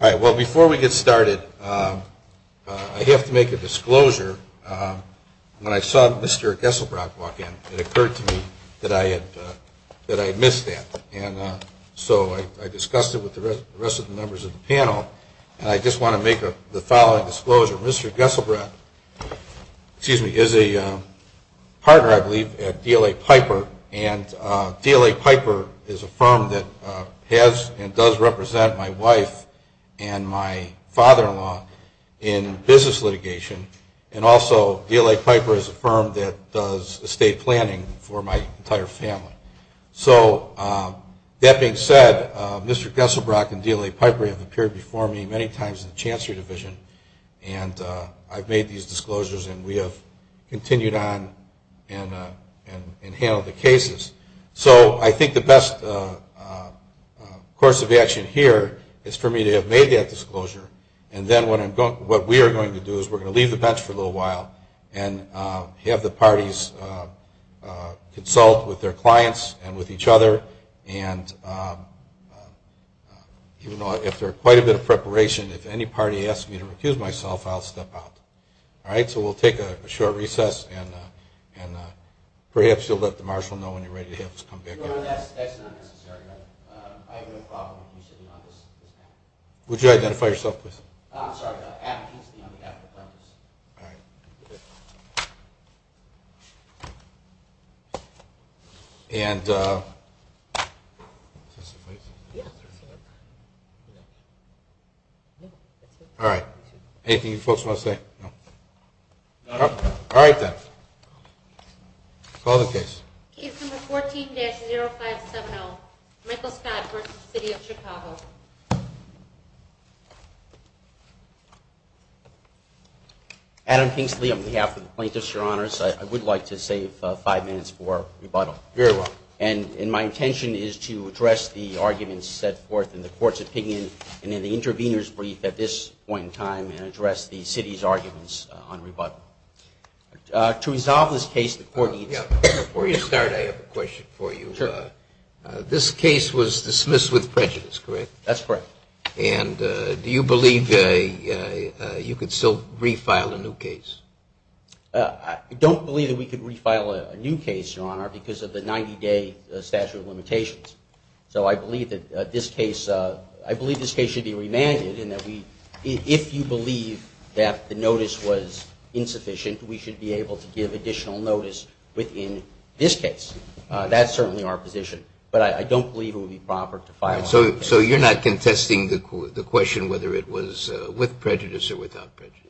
All right. Well, before we get started, I have to make a disclosure. When I saw Mr. Gesselbrock walk in, it occurred to me that I had missed that. And so I discussed it with the rest of the members of the panel, and I just want to make the following disclosure. Mr. Gesselbrock is a partner, I believe, at DLA Piper, and DLA Piper is a firm that has and does represent my wife and my father-in-law in business litigation. And also, DLA Piper is a firm that does estate planning for my entire family. So, that being said, Mr. Gesselbrock and DLA Piper have appeared before me many times in the past, and I've made these disclosures, and we have continued on and handled the cases. So, I think the best course of action here is for me to have made that disclosure, and then what we are going to do is we're going to leave the bench for a little while and have the parties consult with their clients and with each other. And if there is quite a bit of preparation, if any party asks me to recuse myself, I'll step out. So, we'll take a short recess, and perhaps you'll let the marshal know when you're ready to have us come back in. All right. Anything you folks want to say? No? All right, then. Call the case. Case number 14-0570, Michael Scott v. City of Chicago. Adam Kingsley on behalf of the plaintiffs, your honors. I would like to save five minutes for rebuttal. Very well. And my intention is to address the arguments set forth in the court's opinion and in the intervener's brief at this point in time and address the city's arguments on rebuttal. To resolve this case, the court needs... Before you start, I have a question for you. Sure. This case was dismissed with prejudice, correct? That's correct. And do you believe you could still refile a new case? I don't believe that we could refile a new case, your honor, because of the 90-day statute of limitations. So I believe that this case should be remanded in that we... If you believe that the notice was insufficient, we should be able to give additional notice within this case. That's certainly our position. But I don't believe it would be proper to file a new case. So you're not contesting the question whether it was with prejudice or without prejudice?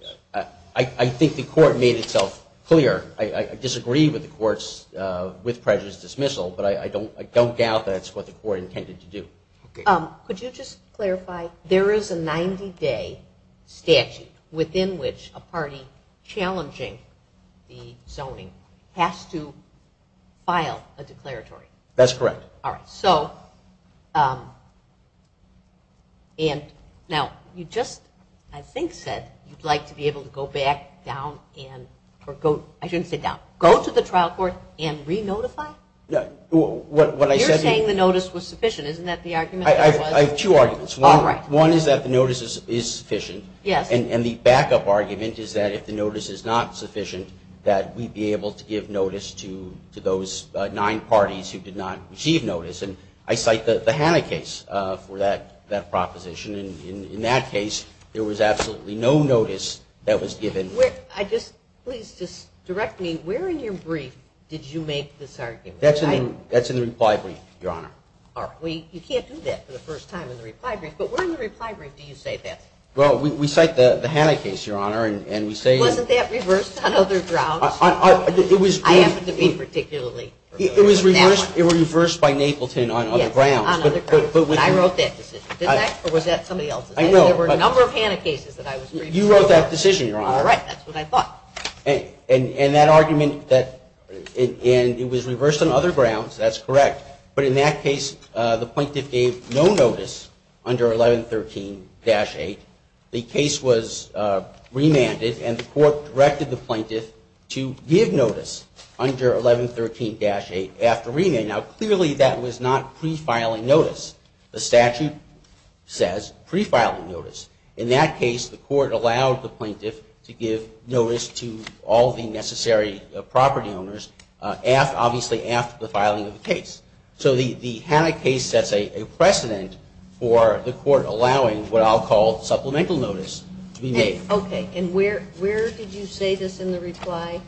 I think the court made itself clear. I disagree with the court's with prejudice dismissal, but I don't doubt that's what the court intended to do. Could you just clarify? There is a 90-day statute within which a party challenging the zoning has to file a declaratory. That's correct. All right. Now, you just, I think, said you'd like to be able to go back down and... I shouldn't say down. Go to the trial court and re-notify? What I said... You're saying the notice was sufficient. Isn't that the argument? I have two arguments. All right. One is that the notice is sufficient. Yes. And the backup argument is that if the notice is not sufficient, that we'd be able to give notice to those nine parties who did not receive notice. And I cite the Hanna case for that proposition. And in that case, there was absolutely no notice that was given. Please just direct me, where in your brief did you make this argument? That's in the reply brief, Your Honor. You can't do that for the first time in the reply brief. But where in the reply brief do you say that? Well, we cite the Hanna case, Your Honor, and we say... Was that reversed on other grounds? I happen to be particularly... It was reversed by Napleton on other grounds. Yes, on other grounds. And I wrote that decision. Did I? Or was that somebody else's? I know, but... There were a number of Hanna cases that I was briefed on. You wrote that decision, Your Honor. All right. That's what I thought. And that argument that it was reversed on other grounds, that's correct. But in that case, the plaintiff gave no notice under 1113-8. The case was remanded, and the court directed the plaintiff to give notice under 1113-8 after remand. Now, clearly that was not pre-filing notice. The statute says pre-filing notice. In that case, the court allowed the plaintiff to give notice to all the necessary property owners, obviously after the filing of the case. So the Hanna case sets a precedent for the court allowing what I'll call supplemental notice to be made. Okay. And where did you say this in the reply?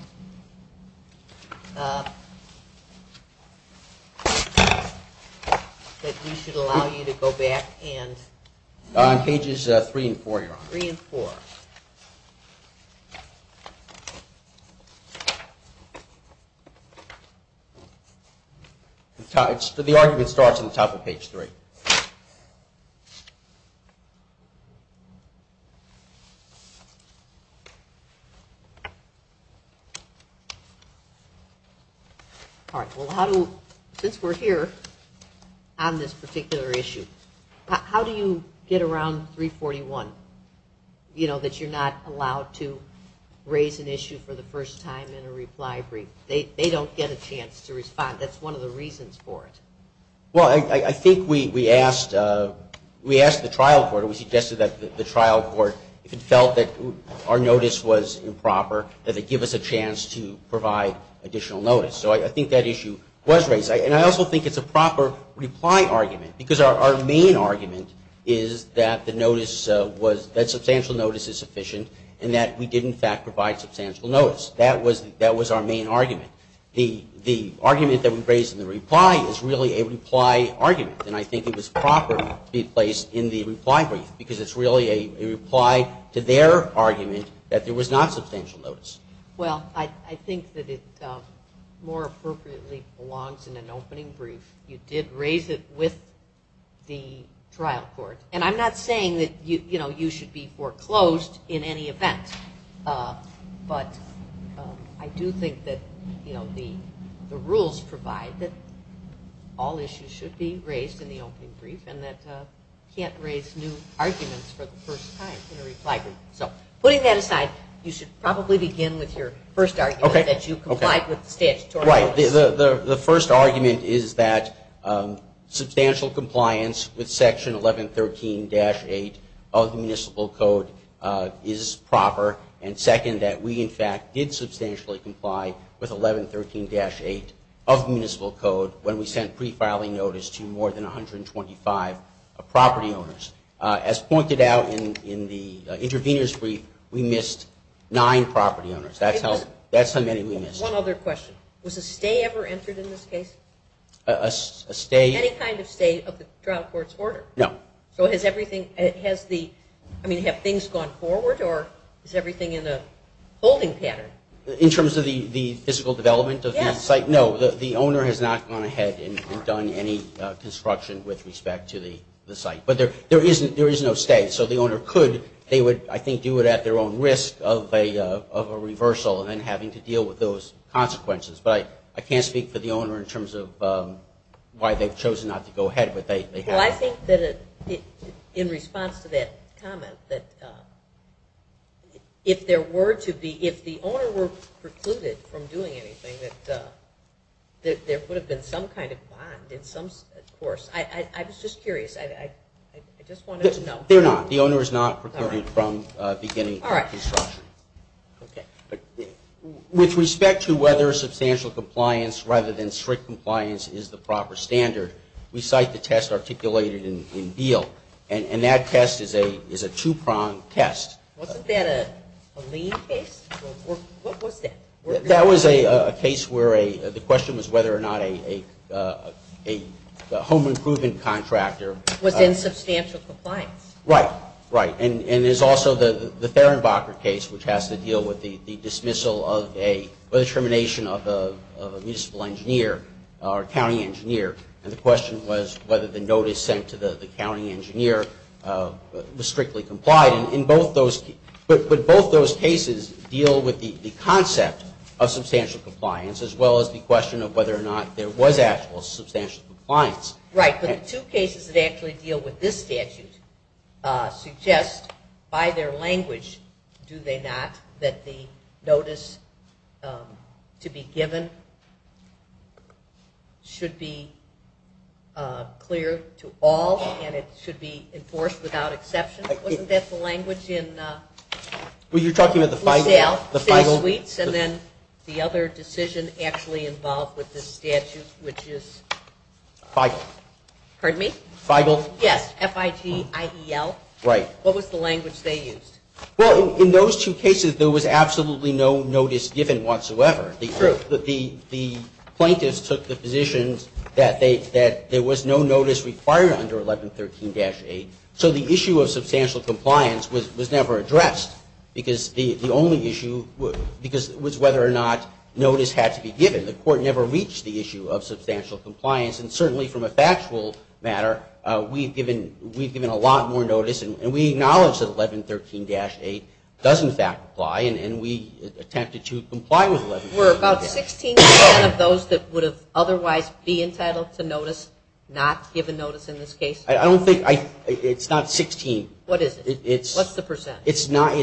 That we should allow you to go back and... On pages 3 and 4, Your Honor. 3 and 4. The argument starts on the top of page 3. All right. Well, since we're here on this particular issue, how do you get around 341, you know, that you're not allowed to raise an issue for the first time in a reply brief? They don't get a chance to respond. That's one of the reasons for it. Well, I think we asked the trial court, or we suggested that the trial court, if it felt that our notice was improper, that they give us a chance to provide additional notice. So I think that issue was raised. And I also think it's a proper reply argument, because our main argument is that substantial notice is sufficient and that we did, in fact, provide substantial notice. That was our main argument. The argument that we raised in the reply is really a reply argument, and I think it was proper to be placed in the reply brief, because it's really a reply to their argument that there was not substantial notice. Well, I think that it more appropriately belongs in an opening brief. You did raise it with the trial court. And I'm not saying that, you know, you should be foreclosed in any event, but I do think that the rules provide that all issues should be raised in the opening brief and that you can't raise new arguments for the first time in a reply brief. So putting that aside, you should probably begin with your first argument, that you complied with the statutory notice. The first argument is that substantial compliance with Section 1113-8 of the Municipal Code is proper, and second, that we, in fact, did substantially comply with 1113-8 of the Municipal Code when we sent pre-filing notice to more than 125 property owners. As pointed out in the intervener's brief, we missed nine property owners. That's how many we missed. One other question. Was a stay ever entered in this case? A stay? Any kind of stay of the trial court's order. No. So has everything, I mean, have things gone forward, or is everything in a holding pattern? In terms of the physical development of the site? Yes. No, the owner has not gone ahead and done any construction with respect to the site. But there is no stay, so the owner could, I think, do it at their own risk of a reversal and then having to deal with those consequences. But I can't speak for the owner in terms of why they've chosen not to go ahead. Well, I think that in response to that comment, that if there were to be, if the owner were precluded from doing anything, that there would have been some kind of bond. Of course. I was just curious. I just wanted to know. They're not. The owner is not precluded from beginning construction. All right. Okay. With respect to whether substantial compliance rather than strict compliance is the proper standard, we cite the test articulated in Beale. And that test is a two-pronged test. Wasn't that a lien case? What was that? That was a case where the question was whether or not a home improvement contractor was in substantial compliance. Right, right. And there's also the Therenbacher case, which has to deal with the dismissal of a, of a municipal engineer or county engineer. And the question was whether the notice sent to the county engineer was strictly complied. And in both those, would both those cases deal with the concept of substantial compliance as well as the question of whether or not there was actual substantial compliance? Right. But the two cases that actually deal with this statute suggest by their language, do they not, that the notice to be given should be clear to all and it should be enforced without exception? Wasn't that the language in LaSalle, six suites, and then the other decision actually involved with this statute, which is? Feigl. Pardon me? Feigl. Yes, F-I-G-I-E-L. Right. What was the language they used? Well, in those two cases, there was absolutely no notice given whatsoever. True. The plaintiffs took the positions that there was no notice required under 1113-8. So the issue of substantial compliance was never addressed because the only issue, because it was whether or not notice had to be given. The court never reached the issue of substantial compliance. And certainly from a factual matter, we've given a lot more notice and we acknowledge that 1113-8 does, in fact, apply and we attempted to comply with 1113-8. Were about 16% of those that would have otherwise be entitled to notice not given notice in this case? I don't think, it's not 16%. What is it? What's the percent? It's not,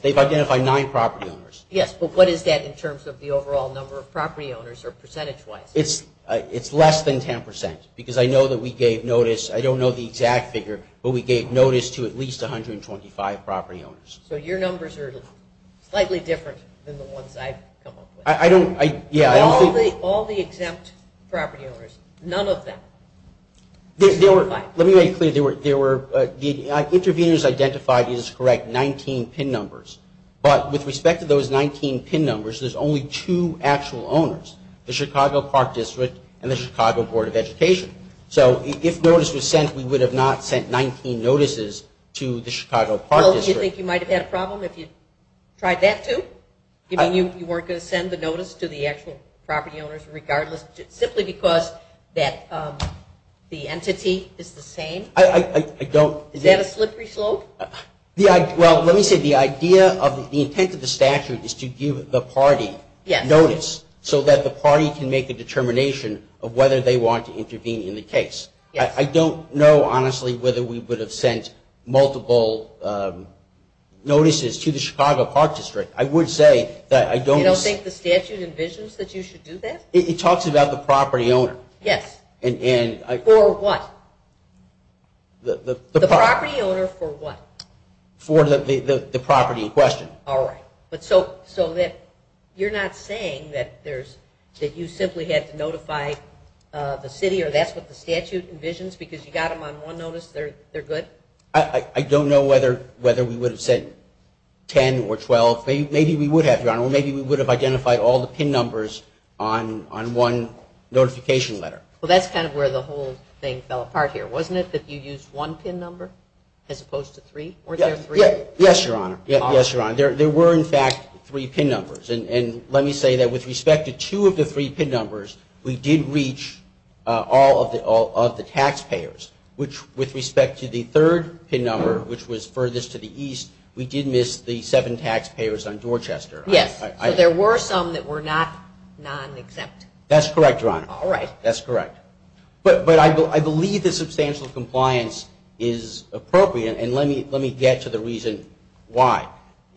they've identified nine property owners. Yes, but what is that in terms of the overall number of property owners or percentage-wise? It's less than 10% because I know that we gave notice, I don't know the exact figure, but we gave notice to at least 125 property owners. So your numbers are slightly different than the ones I've come up with. I don't, yeah, I don't think. All the exempt property owners, none of them. Let me make it clear, there were, the interveners identified, it is correct, 19 PIN numbers. But with respect to those 19 PIN numbers, there's only two actual owners, the Chicago Park District and the Chicago Board of Education. So if notice was sent, we would have not sent 19 notices to the Chicago Park District. Well, do you think you might have had a problem if you tried that too? You mean you weren't going to send the notice to the actual property owners regardless, simply because the entity is the same? I don't. Is that a slippery slope? Well, let me say the idea of the intent of the statute is to give the party notice so that the party can make a determination of whether they want to intervene in the case. I don't know, honestly, whether we would have sent multiple notices to the Chicago Park District. I would say that I don't. You don't think the statute envisions that you should do that? It talks about the property owner. Yes. For what? The property owner for what? For the property in question. All right. So you're not saying that you simply had to notify the city or that's what the statute envisions because you got them on one notice, they're good? I don't know whether we would have sent 10 or 12. Maybe we would have, Your Honor. Or maybe we would have identified all the PIN numbers on one notification letter. Well, that's kind of where the whole thing fell apart here. Wasn't it that you used one PIN number as opposed to three? Yes, Your Honor. Yes, Your Honor. There were, in fact, three PIN numbers. And let me say that with respect to two of the three PIN numbers, we did reach all of the taxpayers, which with respect to the third PIN number, which was furthest to the east, we did miss the seven taxpayers on Dorchester. Yes. So there were some that were not non-exempt. That's correct, Your Honor. All right. That's correct. But I believe that substantial compliance is appropriate. And let me get to the reason why.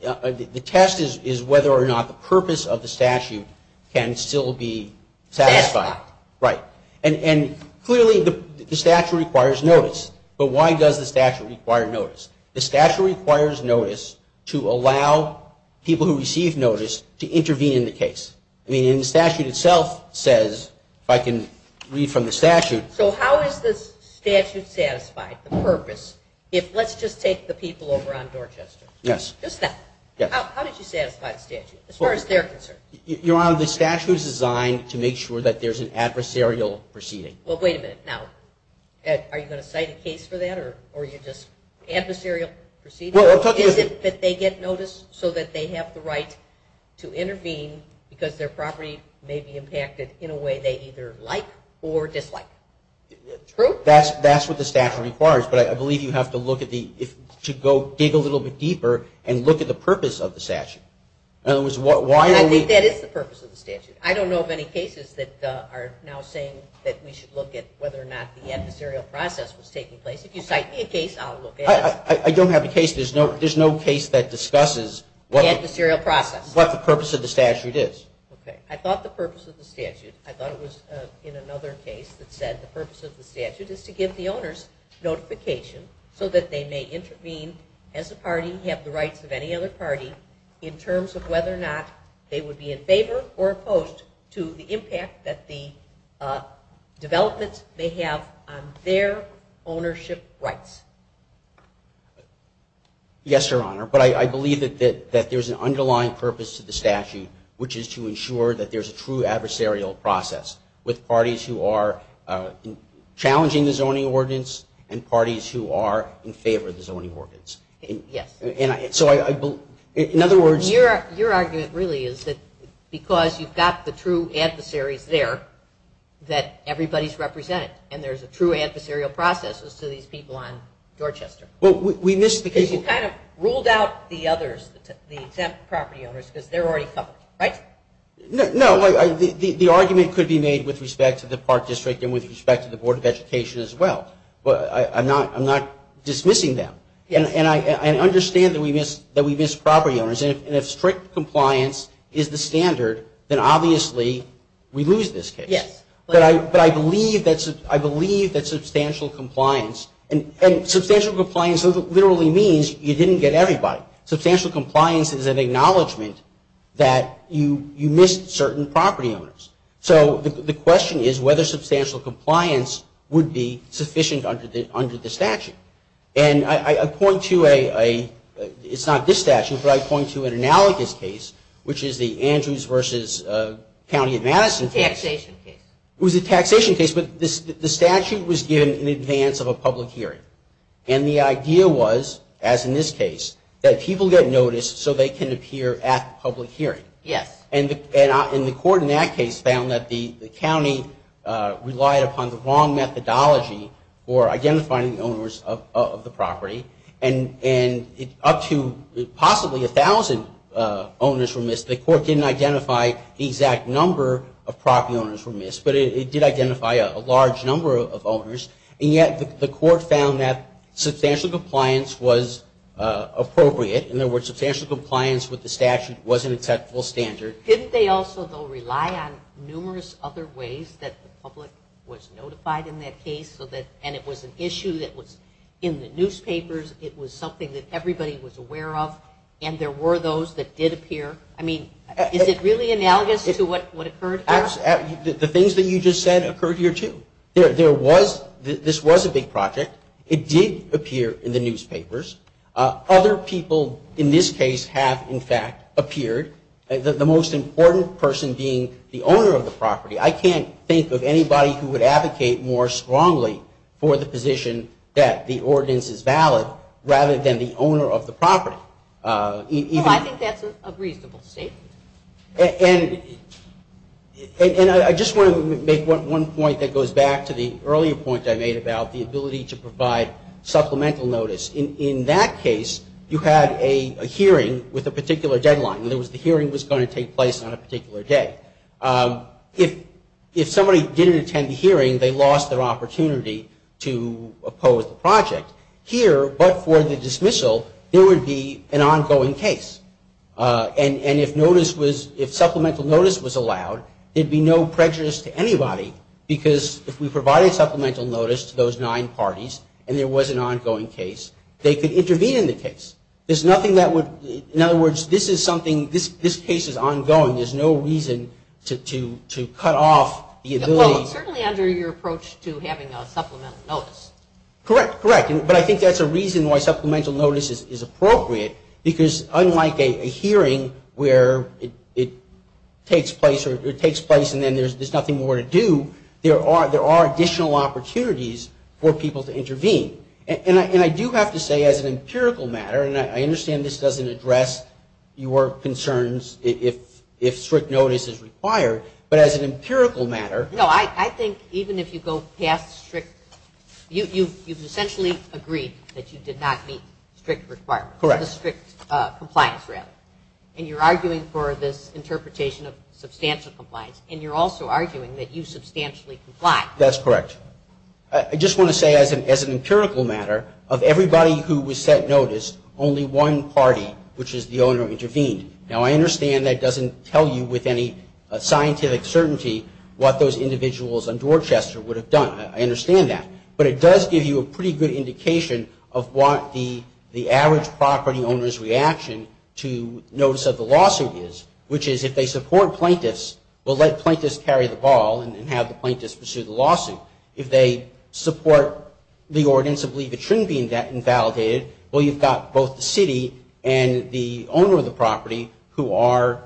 The test is whether or not the purpose of the statute can still be satisfied. Satisfied. Right. And clearly the statute requires notice. But why does the statute require notice? The statute requires notice to allow people who receive notice to intervene in the case. I mean, and the statute itself says, if I can read from the statute. So how is the statute satisfied, the purpose, if let's just take the people over on Dorchester. Yes. Just that. How did you satisfy the statute as far as they're concerned? Your Honor, the statute is designed to make sure that there's an adversarial proceeding. Well, wait a minute. Now, are you going to cite a case for that or are you just adversarial proceeding? Well, I'll talk to you. Is it that they get notice so that they have the right to intervene because their property may be impacted in a way they either like or dislike? True. That's what the statute requires, but I believe you have to go dig a little bit deeper and look at the purpose of the statute. I think that is the purpose of the statute. I don't know of any cases that are now saying that we should look at whether or not the adversarial process was taking place. If you cite me a case, I'll look at it. I don't have a case. There's no case that discusses what the purpose of the statute is. Okay. I thought the purpose of the statute, I thought it was in another case that said the purpose of the statute is to give the owners notification so that they may intervene as a party, have the rights of any other party in terms of whether or not they would be in favor or opposed to the impact that the developments may have on their ownership rights. Yes, Your Honor, but I believe that there's an underlying purpose to the statute, which is to ensure that there's a true adversarial process with parties who are challenging the zoning ordinance and parties who are in favor of the zoning ordinance. Yes. And so I believe, in other words. Your argument really is that because you've got the true adversaries there that everybody's represented and there's a true adversarial process as to these people on Dorchester. Well, we missed the case. You kind of ruled out the others, the exempt property owners, because they're already covered, right? No. The argument could be made with respect to the Park District and with respect to the Board of Education as well. I'm not dismissing them. And I understand that we missed property owners. And if strict compliance is the standard, then obviously we lose this case. Yes. But I believe that substantial compliance, and substantial compliance literally means you didn't get everybody. Substantial compliance is an acknowledgment that you missed certain property owners. So the question is whether substantial compliance would be sufficient under the statute. And I point to a, it's not this statute, but I point to an analogous case, which is the Andrews versus County of Madison case. Taxation case. It was a taxation case, but the statute was given in advance of a public hearing. And the idea was, as in this case, that people get noticed so they can appear at the public hearing. Yes. And the court in that case found that the county relied upon the wrong methodology for identifying the owners of the property. And up to possibly 1,000 owners were missed. The court didn't identify the exact number of property owners were missed, but it did identify a large number of owners. And yet the court found that substantial compliance was appropriate. In other words, substantial compliance with the statute was an acceptable standard. Didn't they also, though, rely on numerous other ways that the public was notified in that case? And it was an issue that was in the newspapers. It was something that everybody was aware of. And there were those that did appear. I mean, is it really analogous to what occurred here? The things that you just said occurred here, too. This was a big project. It did appear in the newspapers. Other people in this case have, in fact, appeared. The most important person being the owner of the property. I can't think of anybody who would advocate more strongly for the position that the ordinance is valid rather than the owner of the property. Well, I think that's a reasonable statement. And I just want to make one point that goes back to the earlier point I made about the ability to provide supplemental notice. In that case, you had a hearing with a particular deadline. In other words, the hearing was going to take place on a particular day. If somebody didn't attend the hearing, they lost their opportunity to oppose the project. Here, but for the dismissal, there would be an ongoing case. And if supplemental notice was allowed, there would be no prejudice to anybody, because if we provided supplemental notice to those nine parties and there was an ongoing case, they could intervene in the case. In other words, this case is ongoing. There's no reason to cut off the ability. Well, it's certainly under your approach to having a supplemental notice. Correct. Correct. But I think that's a reason why supplemental notice is appropriate, because unlike a hearing where it takes place and then there's nothing more to do, there are additional opportunities for people to intervene. And I do have to say as an empirical matter, and I understand this doesn't address your concerns if strict notice is required, but as an empirical matter. No, I think even if you go past strict, you've essentially agreed that you did not meet strict requirements. Correct. Strict compliance, rather. And you're arguing for this interpretation of substantial compliance, and you're also arguing that you substantially comply. That's correct. I just want to say as an empirical matter, of everybody who was set notice, only one party, which is the owner, intervened. Now, I understand that doesn't tell you with any scientific certainty what those individuals on Dorchester would have done. I understand that. But it does give you a pretty good indication of what the average property owner's reaction to notice of the lawsuit is, which is if they support plaintiffs, well, let plaintiffs carry the ball and have the plaintiffs pursue the lawsuit. If they support the ordinance and believe it shouldn't be invalidated, well, you've got both the city and the owner of the property who are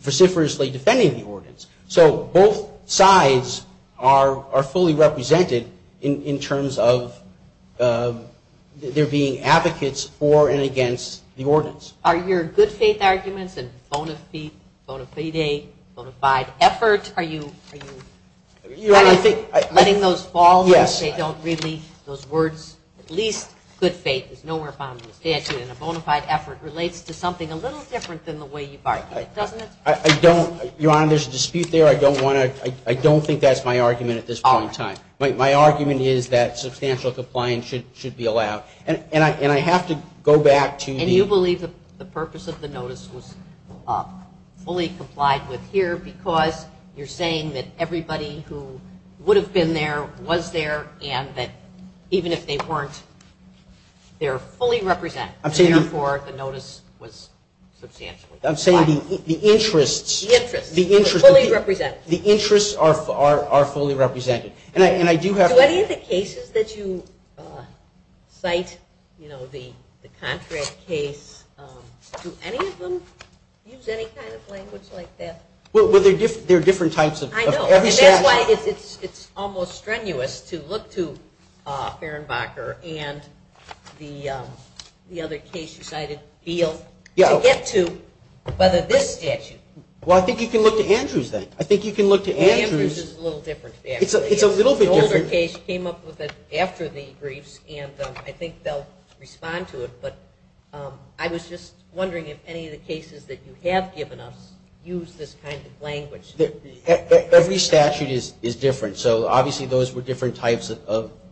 vociferously defending the ordinance. So both sides are fully represented in terms of their being advocates for and against the ordinance. Are your good faith arguments and bona fide effort, are you letting those fall? Yes. Those words, at least good faith is nowhere found in the statute, and a bona fide effort relates to something a little different than the way you've argued it, doesn't it? Your Honor, there's a dispute there. I don't think that's my argument at this point in time. My argument is that substantial compliance should be allowed. And I have to go back to the- And you believe the purpose of the notice was fully complied with here because you're saying that everybody who would have been there was there and that even if they weren't, they're fully represented. I'm saying- Therefore, the notice was substantially complied. I'm saying the interests- The interests. The interests- Fully represented. The interests are fully represented. And I do have- Do any of the cases that you cite, you know, the contract case, do any of them use any kind of language like that? Well, there are different types of- I know. And that's why it's almost strenuous to look to Fehrenbacher and the other case you cited, Beale, to get to whether this statute- Well, I think you can look to Andrews then. I think you can look to Andrews. Andrews is a little different. It's a little bit different. An older case came up with it after the briefs, and I think they'll respond to it, but I was just wondering if any of the cases that you have given us use this kind of language. Every statute is different. So, obviously, those were different types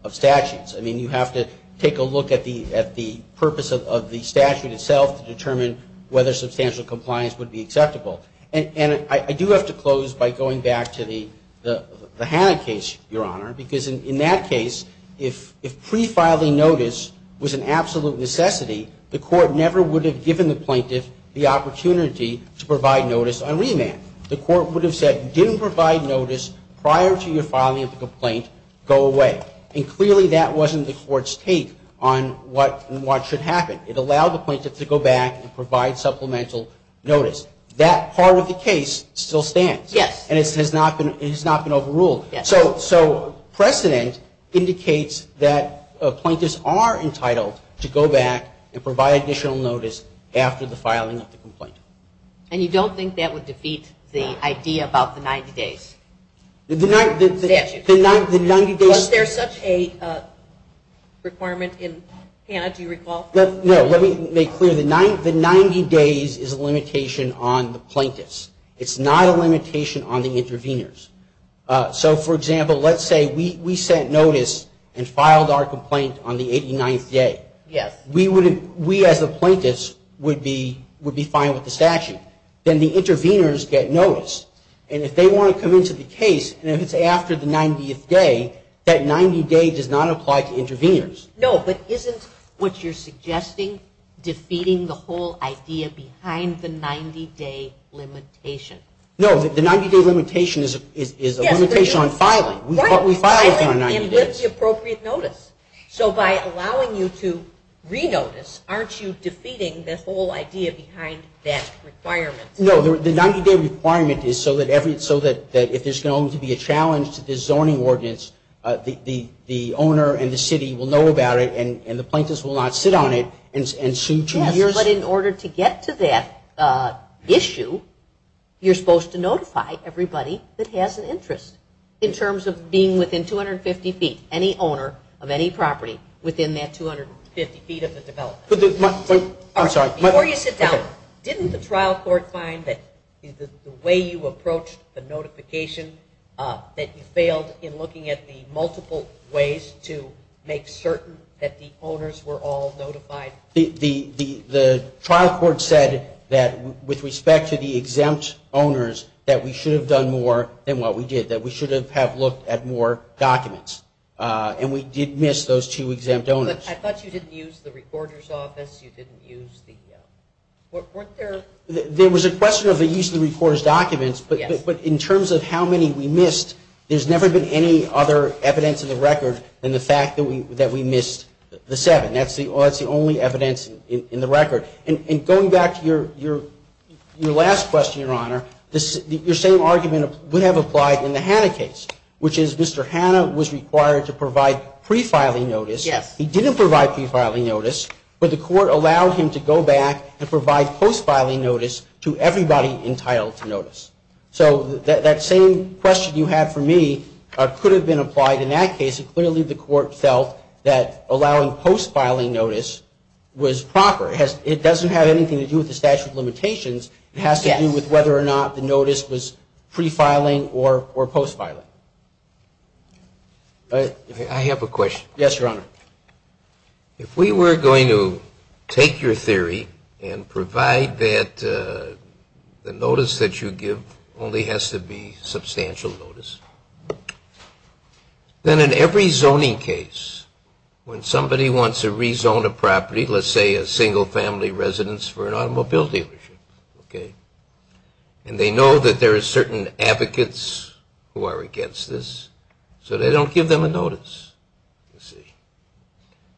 of statutes. I mean, you have to take a look at the purpose of the statute itself to determine whether substantial compliance would be acceptable. And I do have to close by going back to the Hanna case, Your Honor, because in that case, if pre-filing notice was an absolute necessity, the court never would have given the plaintiff the opportunity to provide notice on remand. The court would have said, you didn't provide notice prior to your filing of the complaint. Go away. And clearly that wasn't the court's take on what should happen. It allowed the plaintiff to go back and provide supplemental notice. That part of the case still stands. Yes. And it has not been overruled. Yes. So precedent indicates that plaintiffs are entitled to go back and provide additional notice after the filing of the complaint. And you don't think that would defeat the idea about the 90 days? The 90 days... Was there such a requirement in Hanna? Do you recall? No. Let me make clear. The 90 days is a limitation on the plaintiffs. It's not a limitation on the interveners. So, for example, let's say we sent notice and filed our complaint on the 89th day. Yes. We, as the plaintiffs, would be fine with the statute. Then the interveners get notice. And if they want to come into the case and it's after the 90th day, that 90 days does not apply to interveners. No, but isn't what you're suggesting defeating the whole idea behind the 90 day limitation? No, the 90 day limitation is a limitation on filing. We file within the 90 days. And with the appropriate notice. So by allowing you to re-notice, aren't you defeating the whole idea behind that requirement? No, the 90 day requirement is so that if there's going to be a challenge to this zoning ordinance, the owner and the city will know about it and the plaintiffs will not sit on it and sue. Yes, but in order to get to that issue, you're supposed to notify everybody that has an interest. In terms of being within 250 feet, any owner of any property within that 250 feet of the development. Before you sit down, didn't the trial court find that the way you approached the notification, that you failed in looking at the multiple ways to make certain that the owners were all notified? The trial court said that with respect to the exempt owners, that we should have done more than what we did. That we should have looked at more documents. And we did miss those two exempt owners. I thought you didn't use the recorder's office, you didn't use the, weren't there? There was a question of the use of the recorder's documents, but in terms of how many we missed, there's never been any other evidence in the record than the fact that we missed the seven. That's the only evidence in the record. And going back to your last question, Your Honor, your same argument would have applied in the Hanna case. Which is Mr. Hanna was required to provide pre-filing notice. He didn't provide pre-filing notice, but the court allowed him to go back and provide post-filing notice to everybody entitled to notice. So that same question you had for me could have been applied in that case. It clearly the court felt that allowing post-filing notice was proper. It doesn't have anything to do with the statute of limitations. It has to do with whether or not the notice was pre-filing or post-filing. I have a question. Yes, Your Honor. If we were going to take your theory and provide that the notice that you give only has to be substantial notice, then in every zoning case, when somebody wants to rezone a property, let's say a single family residence for an automobile dealership, and they know that there are certain advocates who are against this, so they don't give them a notice.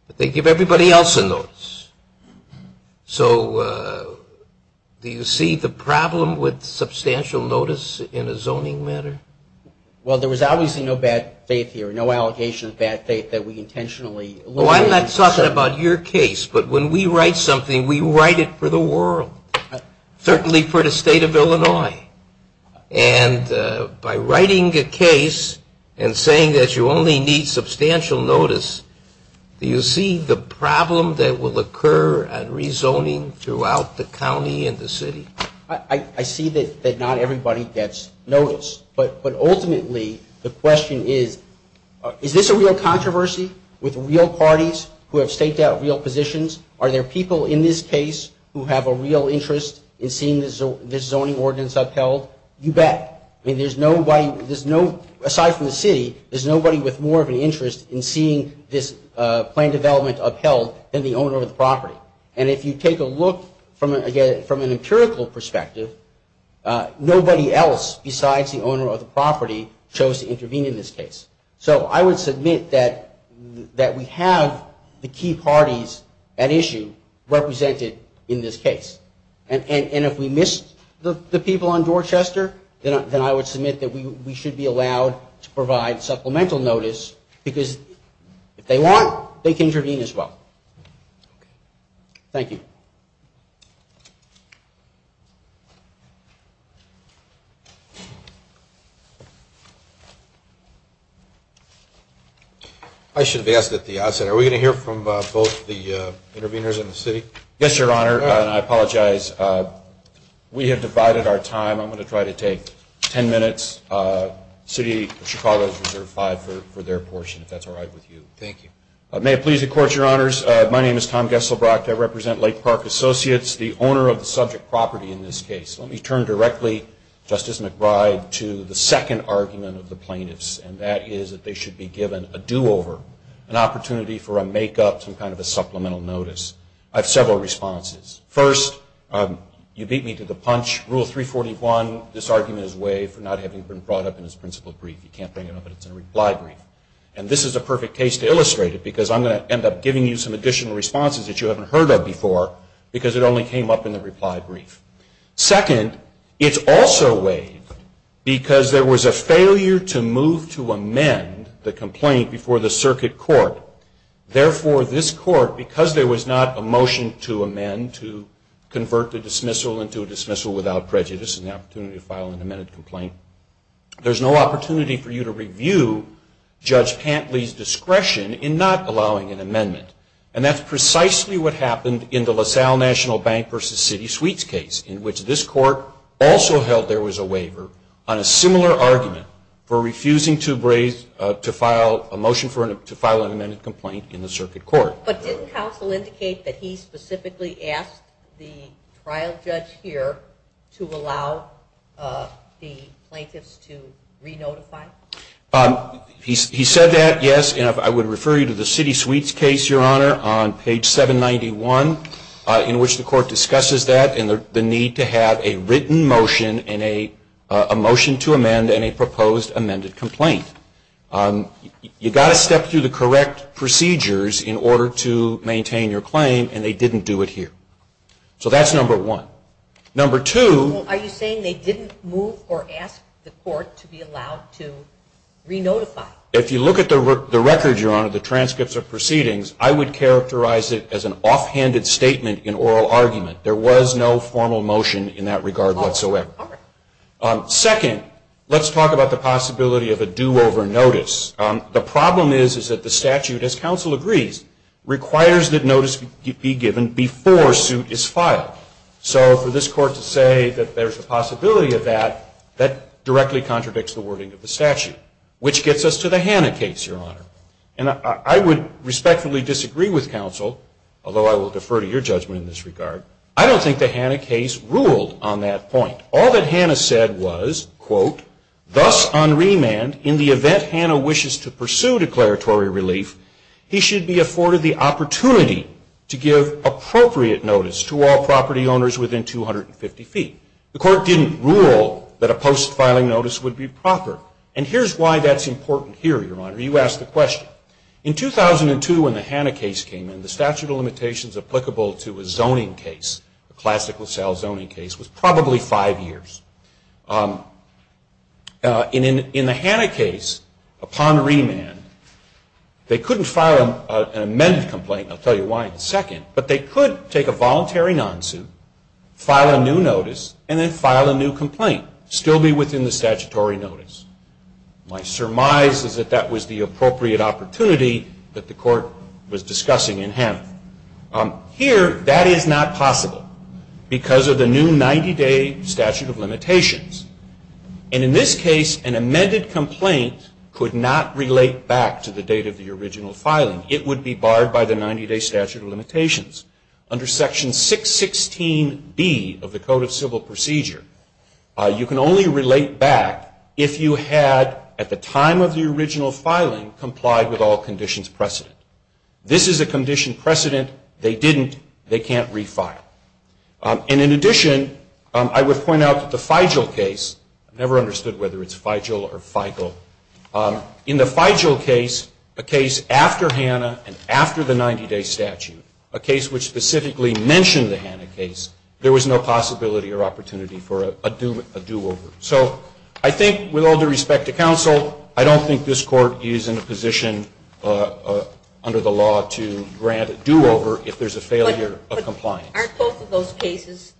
But they give everybody else a notice. So do you see the problem with substantial notice in a zoning matter? Well, there was obviously no bad faith here, no allegation of bad faith that we intentionally alluded to. Well, I'm not talking about your case, but when we write something, we write it for the world, certainly for the state of Illinois. And by writing a case and saying that you only need substantial notice, do you see the problem that will occur at rezoning throughout the county and the city? I see that not everybody gets notice. But ultimately, the question is, is this a real controversy with real parties who have staked out real positions? Are there people in this case who have a real interest in seeing this zoning ordinance upheld? You bet. I mean, there's nobody, aside from the city, there's nobody with more of an interest in seeing this plan development upheld than the owner of the property. And if you take a look from an empirical perspective, nobody else besides the owner of the property chose to intervene in this case. So I would submit that we have the key parties at issue represented in this case. And if we missed the people on Dorchester, then I would submit that we should be allowed to provide supplemental notice, because if they want, they can intervene as well. Thank you. I should have asked at the outset, are we going to hear from both the interveners and the city? Yes, Your Honor, and I apologize. We have divided our time. I'm going to try to take ten minutes. The City of Chicago has reserved five for their portion, if that's all right with you. Thank you. May it please the Court, Your Honors, my name is Tom Gesselbrock. I represent Lake Park Associates, the owner of the subject property in this case. Let me turn directly, Justice McBride, to the second argument of the plaintiffs, and that is that they should be given a do-over, an opportunity for a make-up, some kind of a supplemental notice. I have several responses. First, you beat me to the punch. Rule 341, this argument is waived for not having been brought up in its principle brief. You can't bring it up in its reply brief. And this is a perfect case to illustrate it, because I'm going to end up giving you some additional responses that you haven't heard of before, because it only came up in the reply brief. Second, it's also waived because there was a failure to move to amend the complaint before the circuit court. Therefore, this Court, because there was not a motion to amend, to convert the dismissal into a dismissal without prejudice and the opportunity to file an amended complaint, there's no opportunity for you to review Judge Pantley's discretion in not allowing an amendment. And that's precisely what happened in the LaSalle National Bank v. City Suites case, in which this Court also held there was a waiver on a similar argument for refusing to file a motion to file an amended complaint in the circuit court. But didn't counsel indicate that he specifically asked the trial judge here to allow the plaintiffs to re-notify? He said that, yes. And I would refer you to the City Suites case, Your Honor, on page 791, in which the Court discusses that and the need to have a written motion and a motion to amend and a proposed amended complaint. You've got to step through the correct procedures in order to maintain your claim, and they didn't do it here. So that's number one. Number two... Are you saying they didn't move or ask the Court to be allowed to re-notify? If you look at the record, Your Honor, the transcripts of proceedings, I would characterize it as an offhanded statement in oral argument. There was no formal motion in that regard whatsoever. All right. Second, let's talk about the possibility of a do-over notice. The problem is that the statute, as counsel agrees, requires that notice be given before suit is filed. So for this Court to say that there's a possibility of that, that directly contradicts the wording of the statute, which gets us to the Hanna case, Your Honor. And I would respectfully disagree with counsel, although I will defer to your judgment in this regard. I don't think the Hanna case ruled on that point. All that Hanna said was, quote, Thus on remand, in the event Hanna wishes to pursue declaratory relief, he should be afforded the opportunity to give appropriate notice to all property owners within 250 feet. The Court didn't rule that a post-filing notice would be proper. And here's why that's important here, Your Honor. You asked the question. In 2002, when the Hanna case came in, the statute of limitations applicable to a zoning case, a classical sales zoning case, was probably five years. In the Hanna case, upon remand, they couldn't file an amended complaint. I'll tell you why in a second. But they could take a voluntary non-suit, file a new notice, and then file a new complaint, still be within the statutory notice. My surmise is that that was the appropriate opportunity that the Court was discussing in Hanna. Here, that is not possible because of the new 90-day statute of limitations. And in this case, an amended complaint could not relate back to the date of the original filing. It would be barred by the 90-day statute of limitations. Under Section 616B of the Code of Civil Procedure, you can only relate back if you had, at the time of the original filing, complied with all conditions precedent. This is a condition precedent. They didn't. They can't refile. And in addition, I would point out that the Feigel case, I've never understood whether it's Feigel or Feigel. In the Feigel case, a case after Hanna and after the 90-day statute, a case which specifically mentioned the Hanna case, there was no possibility or opportunity for a do-over. So I think with all due respect to counsel, I don't think this Court is in a position under the law to grant a do-over if there's a failure of compliance. Aren't both of those cases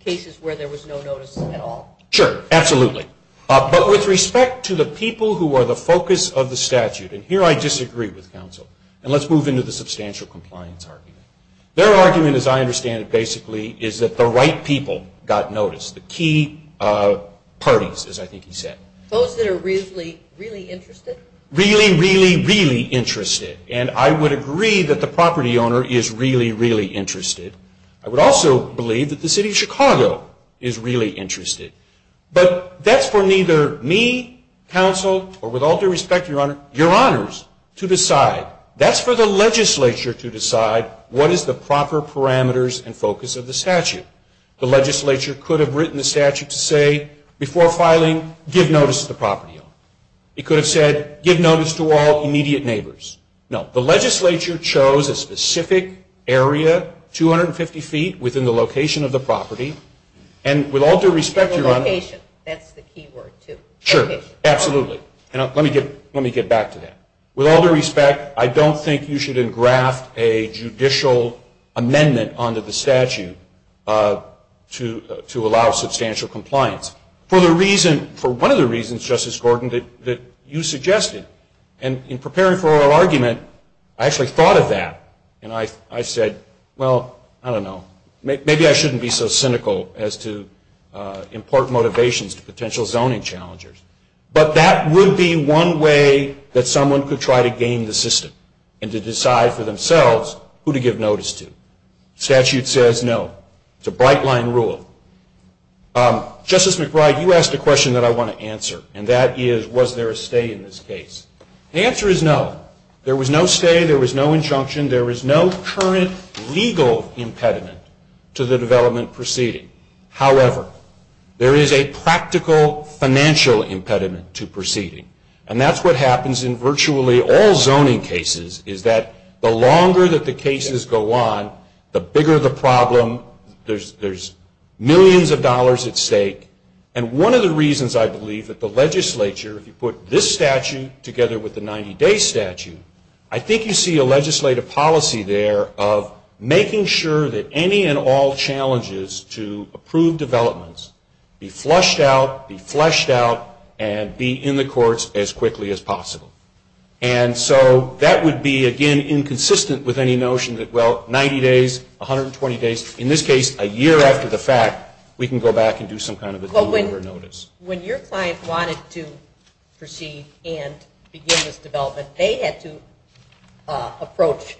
cases where there was no notice at all? Sure. Absolutely. But with respect to the people who are the focus of the statute, and here I disagree with counsel, and let's move into the substantial compliance argument. Their argument, as I understand it basically, is that the right people got notice, the key parties, as I think he said. Those that are really, really interested? Really, really, really interested. And I would agree that the property owner is really, really interested. I would also believe that the city of Chicago is really interested. But that's for neither me, counsel, or with all due respect, Your Honor, Your Honors, to decide. That's for the legislature to decide what is the proper parameters and focus of the statute. The legislature could have written the statute to say, before filing, give notice to the property owner. It could have said, give notice to all immediate neighbors. No. The legislature chose a specific area, 250 feet within the location of the property, and with all due respect, Your Honor. The location. That's the key word, too. Sure. Absolutely. And let me get back to that. With all due respect, I don't think you should engraft a judicial amendment onto the statute to allow substantial compliance. For one of the reasons, Justice Gordon, that you suggested, and in preparing for our argument, I actually thought of that. And I said, well, I don't know. Maybe I shouldn't be so cynical as to important motivations to potential zoning challengers. But that would be one way that someone could try to game the system and to decide for themselves who to give notice to. The statute says no. It's a bright-line rule. Justice McBride, you asked a question that I want to answer, and that is, was there a stay in this case? The answer is no. There was no stay. There was no injunction. There is no current legal impediment to the development proceeding. However, there is a practical financial impediment to proceeding. And that's what happens in virtually all zoning cases, is that the longer that the cases go on, the bigger the problem. There's millions of dollars at stake. And one of the reasons I believe that the legislature, if you put this statute together with the 90-day statute, I think you see a legislative policy there of making sure that any and all challenges to approved developments be flushed out, be fleshed out, and be in the courts as quickly as possible. And so that would be, again, inconsistent with any notion that, well, 90 days, 120 days, in this case a year after the fact, we can go back and do some kind of a delivery notice. When your client wanted to proceed and begin this development, they had to approach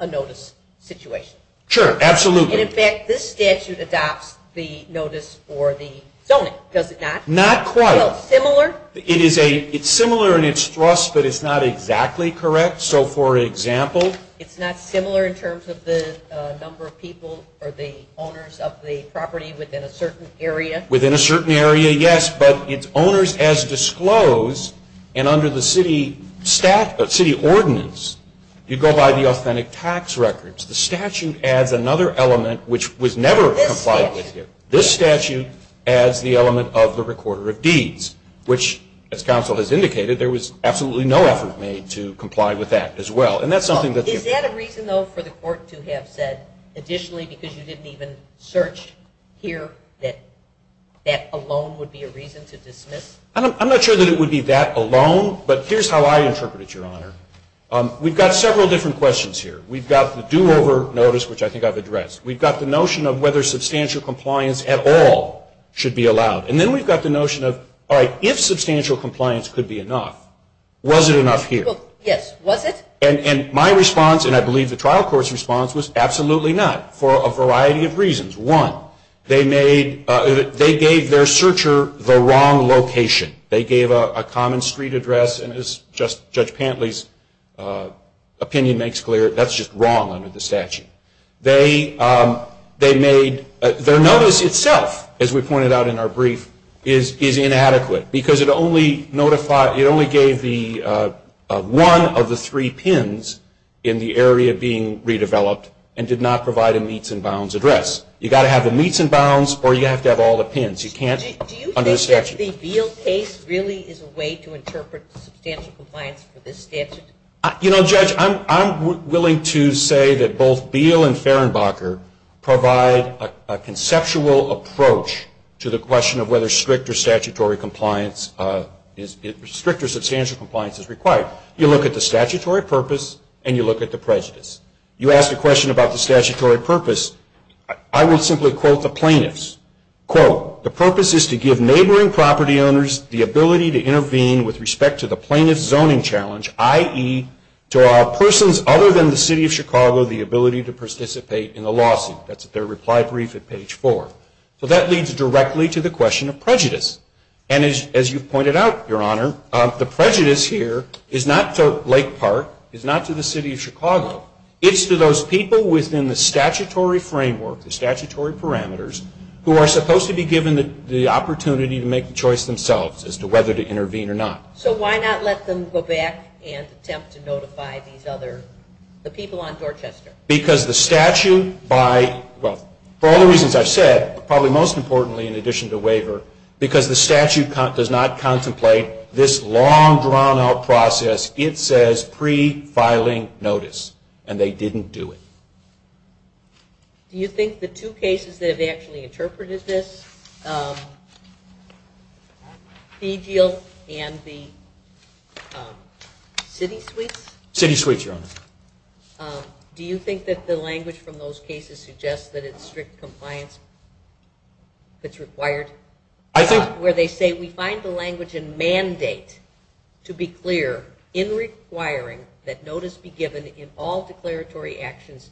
a notice situation. Sure, absolutely. And, in fact, this statute adopts the notice for the zoning, does it not? Not quite. Well, similar? It's similar in its thrust, but it's not exactly correct. So, for example? It's not similar in terms of the number of people or the owners of the property within a certain area? Within a certain area, yes, but its owners as disclosed, and under the city ordinance you go by the authentic tax records. The statute adds another element which was never complied with here. This statute adds the element of the recorder of deeds, which, as counsel has indicated, there was absolutely no effort made to comply with that as well. Is that a reason, though, for the court to have said additionally, because you didn't even search here, that that alone would be a reason to dismiss? I'm not sure that it would be that alone, but here's how I interpret it, Your Honor. We've got several different questions here. We've got the do-over notice, which I think I've addressed. We've got the notion of whether substantial compliance at all should be allowed, and then we've got the notion of, all right, if substantial compliance could be enough, was it enough here? Well, yes, was it? And my response, and I believe the trial court's response, was absolutely not for a variety of reasons. One, they gave their searcher the wrong location. They gave a common street address, and as Judge Pantley's opinion makes clear, that's just wrong under the statute. Their notice itself, as we pointed out in our brief, is inadequate, because it only gave one of the three pins in the area being redeveloped and did not provide a meets and bounds address. You've got to have the meets and bounds, or you have to have all the pins. Do you think that the Beal case really is a way to interpret substantial compliance for this statute? You know, Judge, I'm willing to say that both Beal and Fehrenbacher provide a conceptual approach to the question of whether strict or substantial compliance is required. You look at the statutory purpose, and you look at the prejudice. You ask a question about the statutory purpose, I would simply quote the plaintiffs. Quote, the purpose is to give neighboring property owners the ability to intervene with respect to the plaintiff's zoning challenge, i.e., to persons other than the City of Chicago the ability to participate in the lawsuit. That's their reply brief at page four. So that leads directly to the question of prejudice. And as you pointed out, Your Honor, the prejudice here is not to Lake Park, is not to the City of Chicago. It's to those people within the statutory framework, the statutory parameters, who are supposed to be given the opportunity to make the choice themselves as to whether to intervene or not. So why not let them go back and attempt to notify these other, the people on Dorchester? Because the statute by, well, for all the reasons I've said, probably most importantly in addition to waiver, because the statute does not contemplate this long, drawn-out process, it says pre-filing notice. And they didn't do it. Do you think the two cases that have actually interpreted this, DGL and the City Suites? City Suites, Your Honor. Do you think that the language from those cases suggests that it's strict compliance that's required? I think... Where they say we find the language in mandate to be clear in requiring that notice be given in all declaratory actions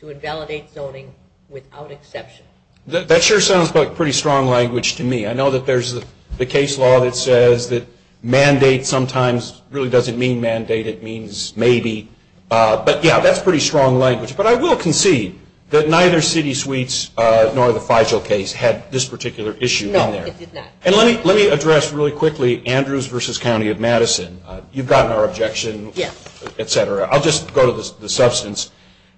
to invalidate zoning without exception. That sure sounds like pretty strong language to me. I know that there's the case law that says that mandate sometimes really doesn't mean mandate. It means maybe. But, yeah, that's pretty strong language. But I will concede that neither City Suites nor the Feigel case had this particular issue in there. No, it did not. And let me address really quickly Andrews v. County of Madison. You've gotten our objection, et cetera. I'll just go to the substance.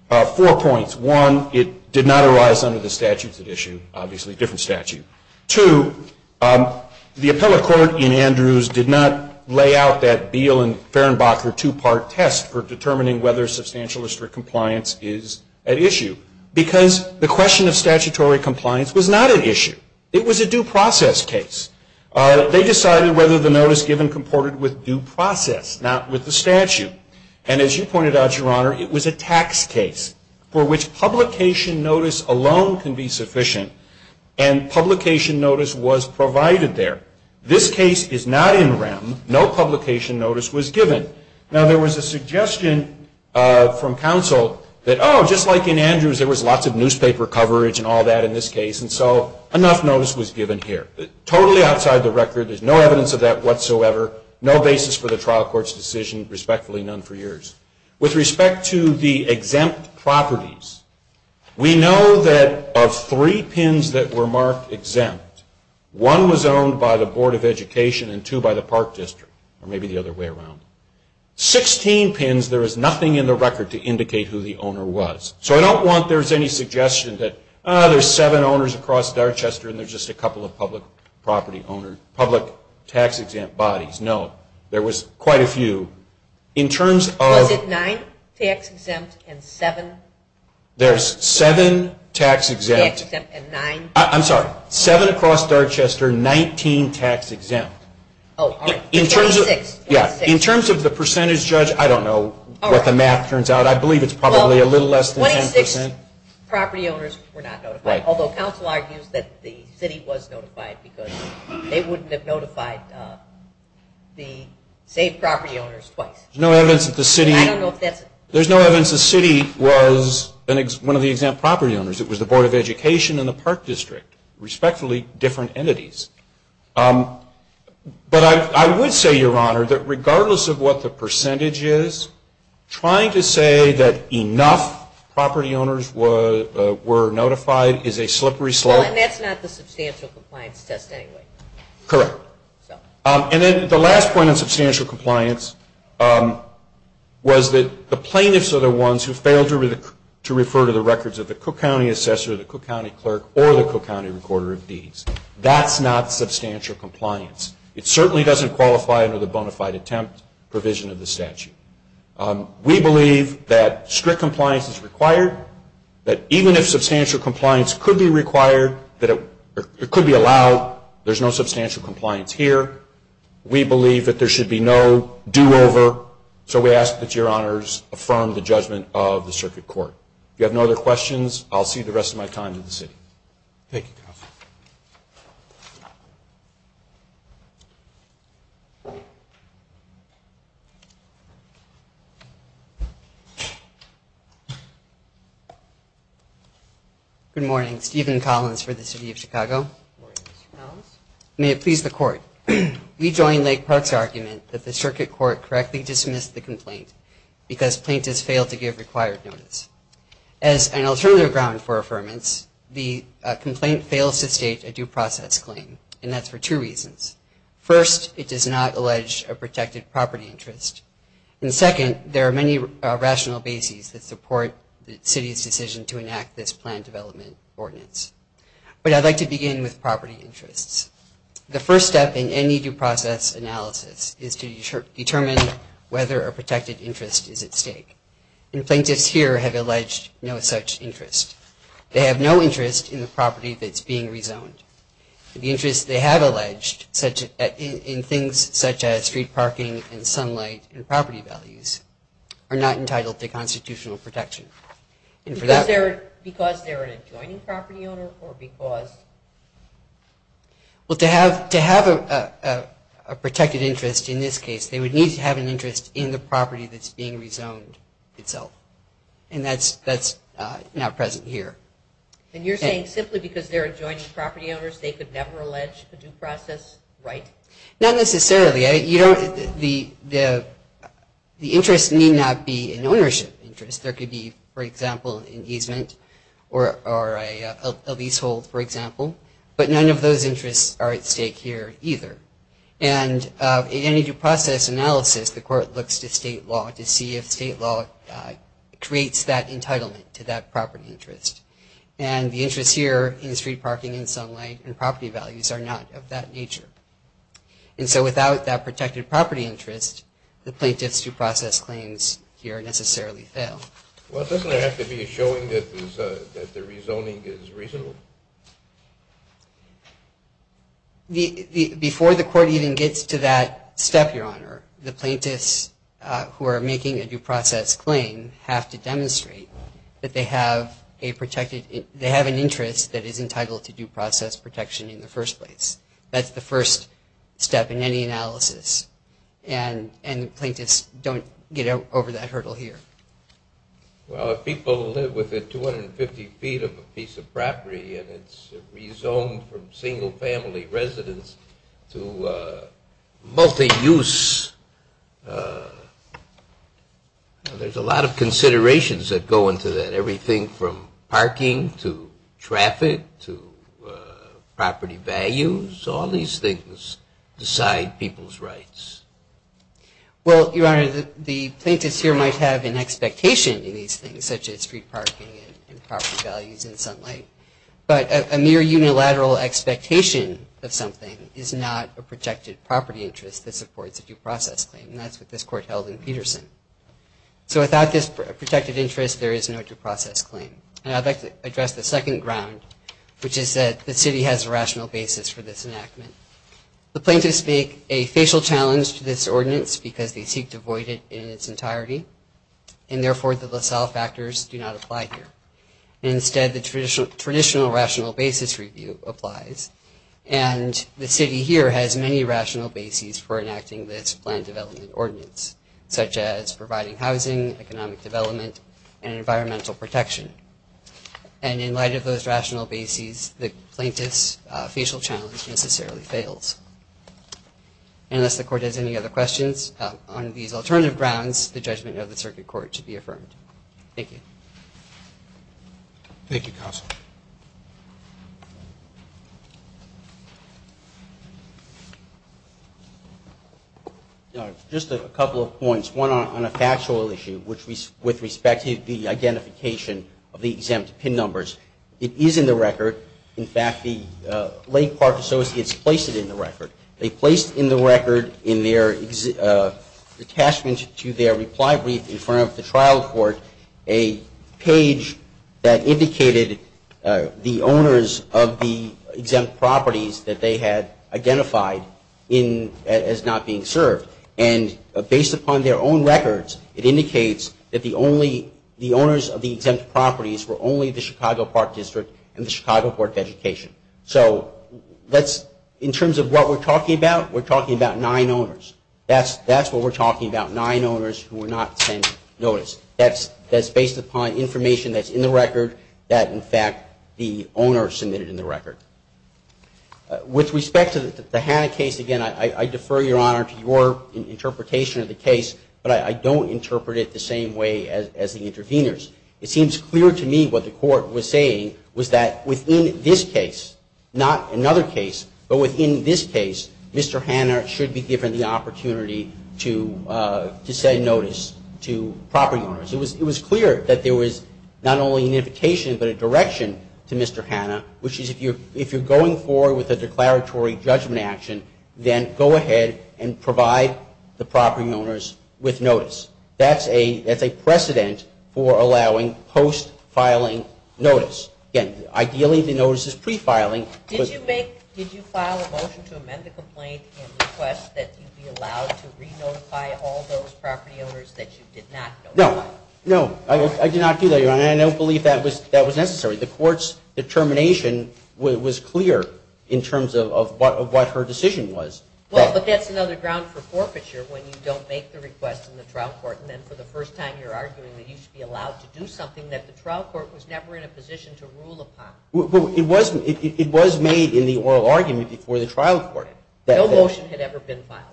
Four points. One, it did not arise under the statutes at issue, obviously a different statute. Two, the appellate court in Andrews did not lay out that Beal and Fehrenbach were two-part tests for determining whether substantial or strict compliance is at issue. Because the question of statutory compliance was not at issue. It was a due process case. They decided whether the notice given comported with due process, not with the statute. And as you pointed out, Your Honor, it was a tax case for which publication notice alone can be sufficient and publication notice was provided there. This case is not in REM. No publication notice was given. Now, there was a suggestion from counsel that, oh, just like in Andrews, there was lots of newspaper coverage and all that in this case, and so enough notice was given here. Totally outside the record. There's no evidence of that whatsoever. No basis for the trial court's decision. Respectfully, none for years. With respect to the exempt properties, we know that of three PINs that were marked exempt, one was owned by the Board of Education and two by the Park District, or maybe the other way around. Sixteen PINs, there is nothing in the record to indicate who the owner was. So I don't want there's any suggestion that, oh, there's seven owners across Dorchester and there's just a couple of public property owners, public tax-exempt bodies. No. There was quite a few. Was it nine tax-exempt and seven? There's seven tax-exempt. Tax-exempt and nine? I'm sorry. Seven across Dorchester, 19 tax-exempt. Oh, all right. In terms of the percentage, Judge, I don't know what the math turns out. I believe it's probably a little less than 10%. 26 property owners were not notified, although counsel argues that the city was notified because they wouldn't have notified the same property owners twice. There's no evidence that the city was one of the exempt property owners. It was the Board of Education and the Park District, respectfully different entities. But I would say, Your Honor, that regardless of what the percentage is, trying to say that enough property owners were notified is a slippery slope. And that's not the substantial compliance test anyway. Correct. And then the last point on substantial compliance was that the plaintiffs are the ones who failed to refer to the records of the Cook County Assessor, the Cook County Clerk, or the Cook County Recorder of Deeds. That's not substantial compliance. It certainly doesn't qualify under the bona fide attempt provision of the statute. We believe that strict compliance is required, that even if substantial compliance could be allowed, there's no substantial compliance here. We believe that there should be no do-over. So we ask that Your Honors affirm the judgment of the circuit court. If you have no other questions, I'll cede the rest of my time to the city. Thank you, counsel. Good morning. Stephen Collins for the City of Chicago. Good morning, Mr. Collins. May it please the Court. We join Lake Park's argument that the circuit court correctly dismissed the complaint because plaintiffs failed to give required notice. As an alternative ground for affirmance, the complaint fails to state a due process claim, and that's for two reasons. First, it does not allege a protected property interest. And second, there are many rational bases that support the city's decision to enact this plan development ordinance. But I'd like to begin with property interests. The first step in any due process analysis is to determine whether a protected interest is at stake. And plaintiffs here have alleged no such interest. They have no interest in the property that's being rezoned. The interest they have alleged in things such as street parking and sunlight and property values are not entitled to constitutional protection. Because they're an adjoining property owner or because? Well, to have a protected interest in this case, they would need to have an interest in the property that's being rezoned itself. And that's not present here. And you're saying simply because they're adjoining property owners, they could never allege a due process right? Not necessarily. The interest need not be an ownership interest. There could be, for example, an easement or a leasehold, for example. But none of those interests are at stake here either. And in any due process analysis, the court looks to state law creates that entitlement to that property interest. And the interest here in street parking and sunlight and property values are not of that nature. And so without that protected property interest, the plaintiff's due process claims here necessarily fail. Well, doesn't it have to be a showing that the rezoning is reasonable? Before the court even gets to that step, Your Honor, the plaintiffs who are making a due process claim have to demonstrate that they have an interest that is entitled to due process protection in the first place. That's the first step in any analysis. And the plaintiffs don't get over that hurdle here. Well, if people live with 250 feet of a piece of property and it's rezoned from single-family residence to multi-use, there's a lot of considerations that go into that. Everything from parking to traffic to property values, all these things decide people's rights. Well, Your Honor, the plaintiffs here might have an expectation in these things, such as street parking and property values and sunlight, but a mere unilateral expectation of something is not a projected property interest that supports a due process claim, and that's what this Court held in Peterson. So without this protected interest, there is no due process claim. And I'd like to address the second ground, which is that the City has a rational basis for this enactment. The plaintiffs make a facial challenge to this ordinance because they seek to void it in its entirety, and therefore the LaSalle factors do not apply here. Instead, the traditional rational basis review applies, and the City here has many rational bases for enacting this planned development ordinance, such as providing housing, economic development, and environmental protection. And in light of those rational bases, the plaintiffs' facial challenge necessarily fails. And unless the Court has any other questions on these alternative grounds, the judgment of the Circuit Court should be affirmed. Thank you. Thank you, Counsel. Just a couple of points, one on a factual issue, which is with respect to the identification of the exempt pin numbers. It is in the record. In fact, the Lake Park Associates placed it in the record. They placed in the record, in their attachment to their reply brief in front of the trial court, a page that indicated the owners of the exempt properties that they had identified as not being served. And based upon their own records, it indicates that the owners of the exempt properties were only the Chicago Park District and the Chicago Board of Education. So in terms of what we're talking about, we're talking about nine owners. That's what we're talking about, nine owners who were not sent notice. That's based upon information that's in the record that, in fact, the owner submitted in the record. With respect to the Hanna case, again, I defer, Your Honor, to your interpretation of the case, but I don't interpret it the same way as the interveners. It seems clear to me what the court was saying was that within this case, not another case, but within this case, Mr. Hanna should be given the opportunity to send notice to property owners. It was clear that there was not only an indication but a direction to Mr. Hanna, which is if you're going forward with a declaratory judgment action, then go ahead and provide the property owners with notice. That's a precedent for allowing post-filing notice. Again, ideally the notice is pre-filing. Did you file a motion to amend the complaint and request that you be allowed to re-notify all those property owners that you did not notify? No, no, I did not do that, Your Honor, and I don't believe that was necessary. The court's determination was clear in terms of what her decision was. Well, but that's another ground for forfeiture when you don't make the request in the trial court and then for the first time you're arguing that you should be allowed to do something that the trial court was never in a position to rule upon. Well, it was made in the oral argument before the trial court. No motion had ever been filed.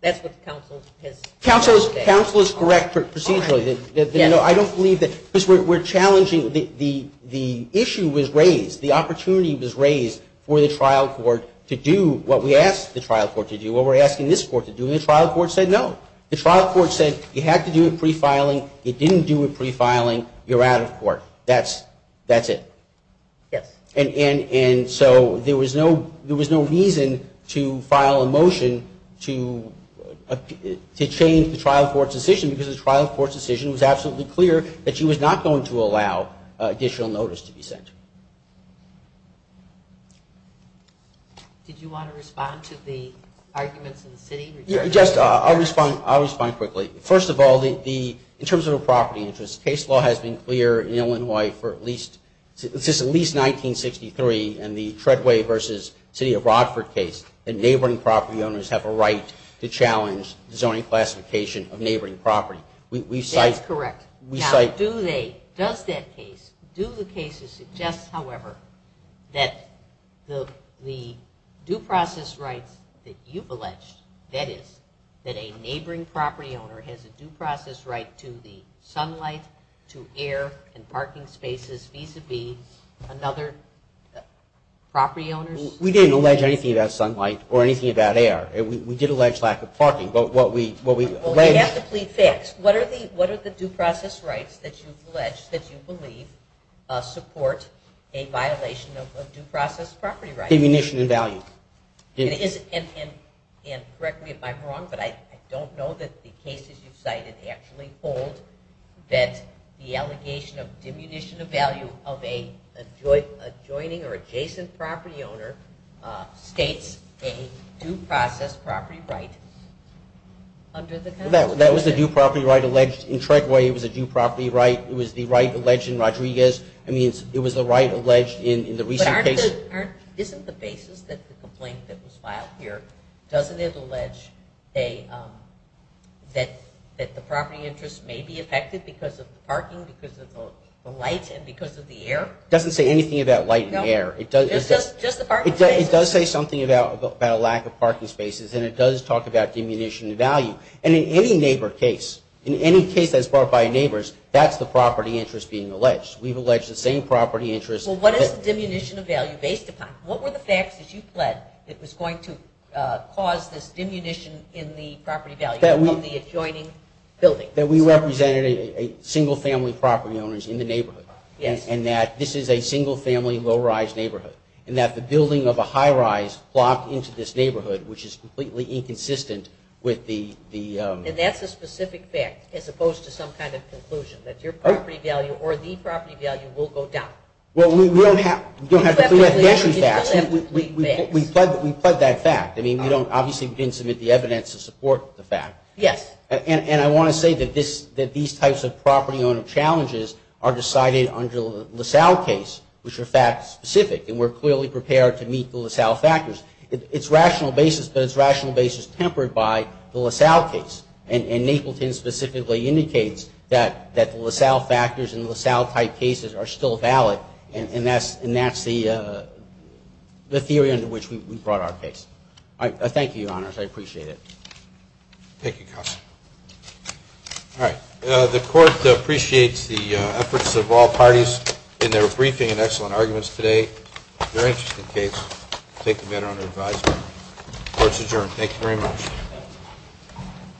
That's what the counsel has said. Counsel is correct procedurally. I don't believe that because we're challenging the issue was raised, the opportunity was raised for the trial court to do what we asked the trial court to do, what we're asking this court to do, and the trial court said no. The trial court said you had to do it pre-filing. You didn't do it pre-filing. You're out of court. That's it. Yes. And so there was no reason to file a motion to change the trial court's decision because the trial court's decision was absolutely clear that she was not going to allow additional notice to be sent. Did you want to respond to the arguments in the city? Yes, I'll respond quickly. First of all, in terms of the property interest, case law has been clear in Illinois since at least 1963 in the Treadway v. City of Broadford case that neighboring property owners have a right to challenge zoning classification of neighboring property. That's correct. Now, does that case, do the case suggest, however, that the due process rights that you've alleged, that is, that a neighboring property owner has a due process right to the sunlight, to air and parking spaces, vis-a-vis another property owner's? We didn't allege anything about sunlight or anything about air. We did allege lack of parking. Well, you have to plead facts. What are the due process rights that you've alleged, that you believe, support a violation of due process property rights? Demunition of value. And correct me if I'm wrong, but I don't know that the cases you've cited actually hold that the allegation of a due process property right under the Constitution. That was the due property right alleged in Treadway. It was a due property right. It was the right alleged in Rodriguez. I mean, it was the right alleged in the recent case. But isn't the basis that the complaint that was filed here, doesn't it allege that the property interest may be affected because of parking, because of the light and because of the air? It doesn't say anything about light and air. It does say something about a lack of parking spaces. And it does talk about demunition of value. And in any neighbor case, in any case that's brought by neighbors, that's the property interest being alleged. We've alleged the same property interest. Well, what is the demunition of value based upon? What were the facts that you pled that was going to cause this demunition in the property value of the adjoining building? That we represented a single-family property owners in the neighborhood. Yes. And that this is a single-family, low-rise neighborhood. And that the building of a high-rise plopped into this neighborhood, which is completely inconsistent with the – And that's a specific fact, as opposed to some kind of conclusion, that your property value or the property value will go down. Well, we don't have to – You still have three facts. We pled that fact. I mean, we don't – obviously, we didn't submit the evidence to support the fact. Yes. And I want to say that these types of property owner challenges are decided under the LaSalle case, which are fact-specific. And we're clearly prepared to meet the LaSalle factors. It's rational basis, but it's rational basis tempered by the LaSalle case. And Napleton specifically indicates that the LaSalle factors and LaSalle-type cases are still valid. And that's the theory under which we brought our case. Thank you, Your Honors. I appreciate it. Thank you, Counsel. All right. The Court appreciates the efforts of all parties in their briefing and excellent arguments today. Very interesting case. Take the matter under advisement. Court's adjourned. Thank you very much.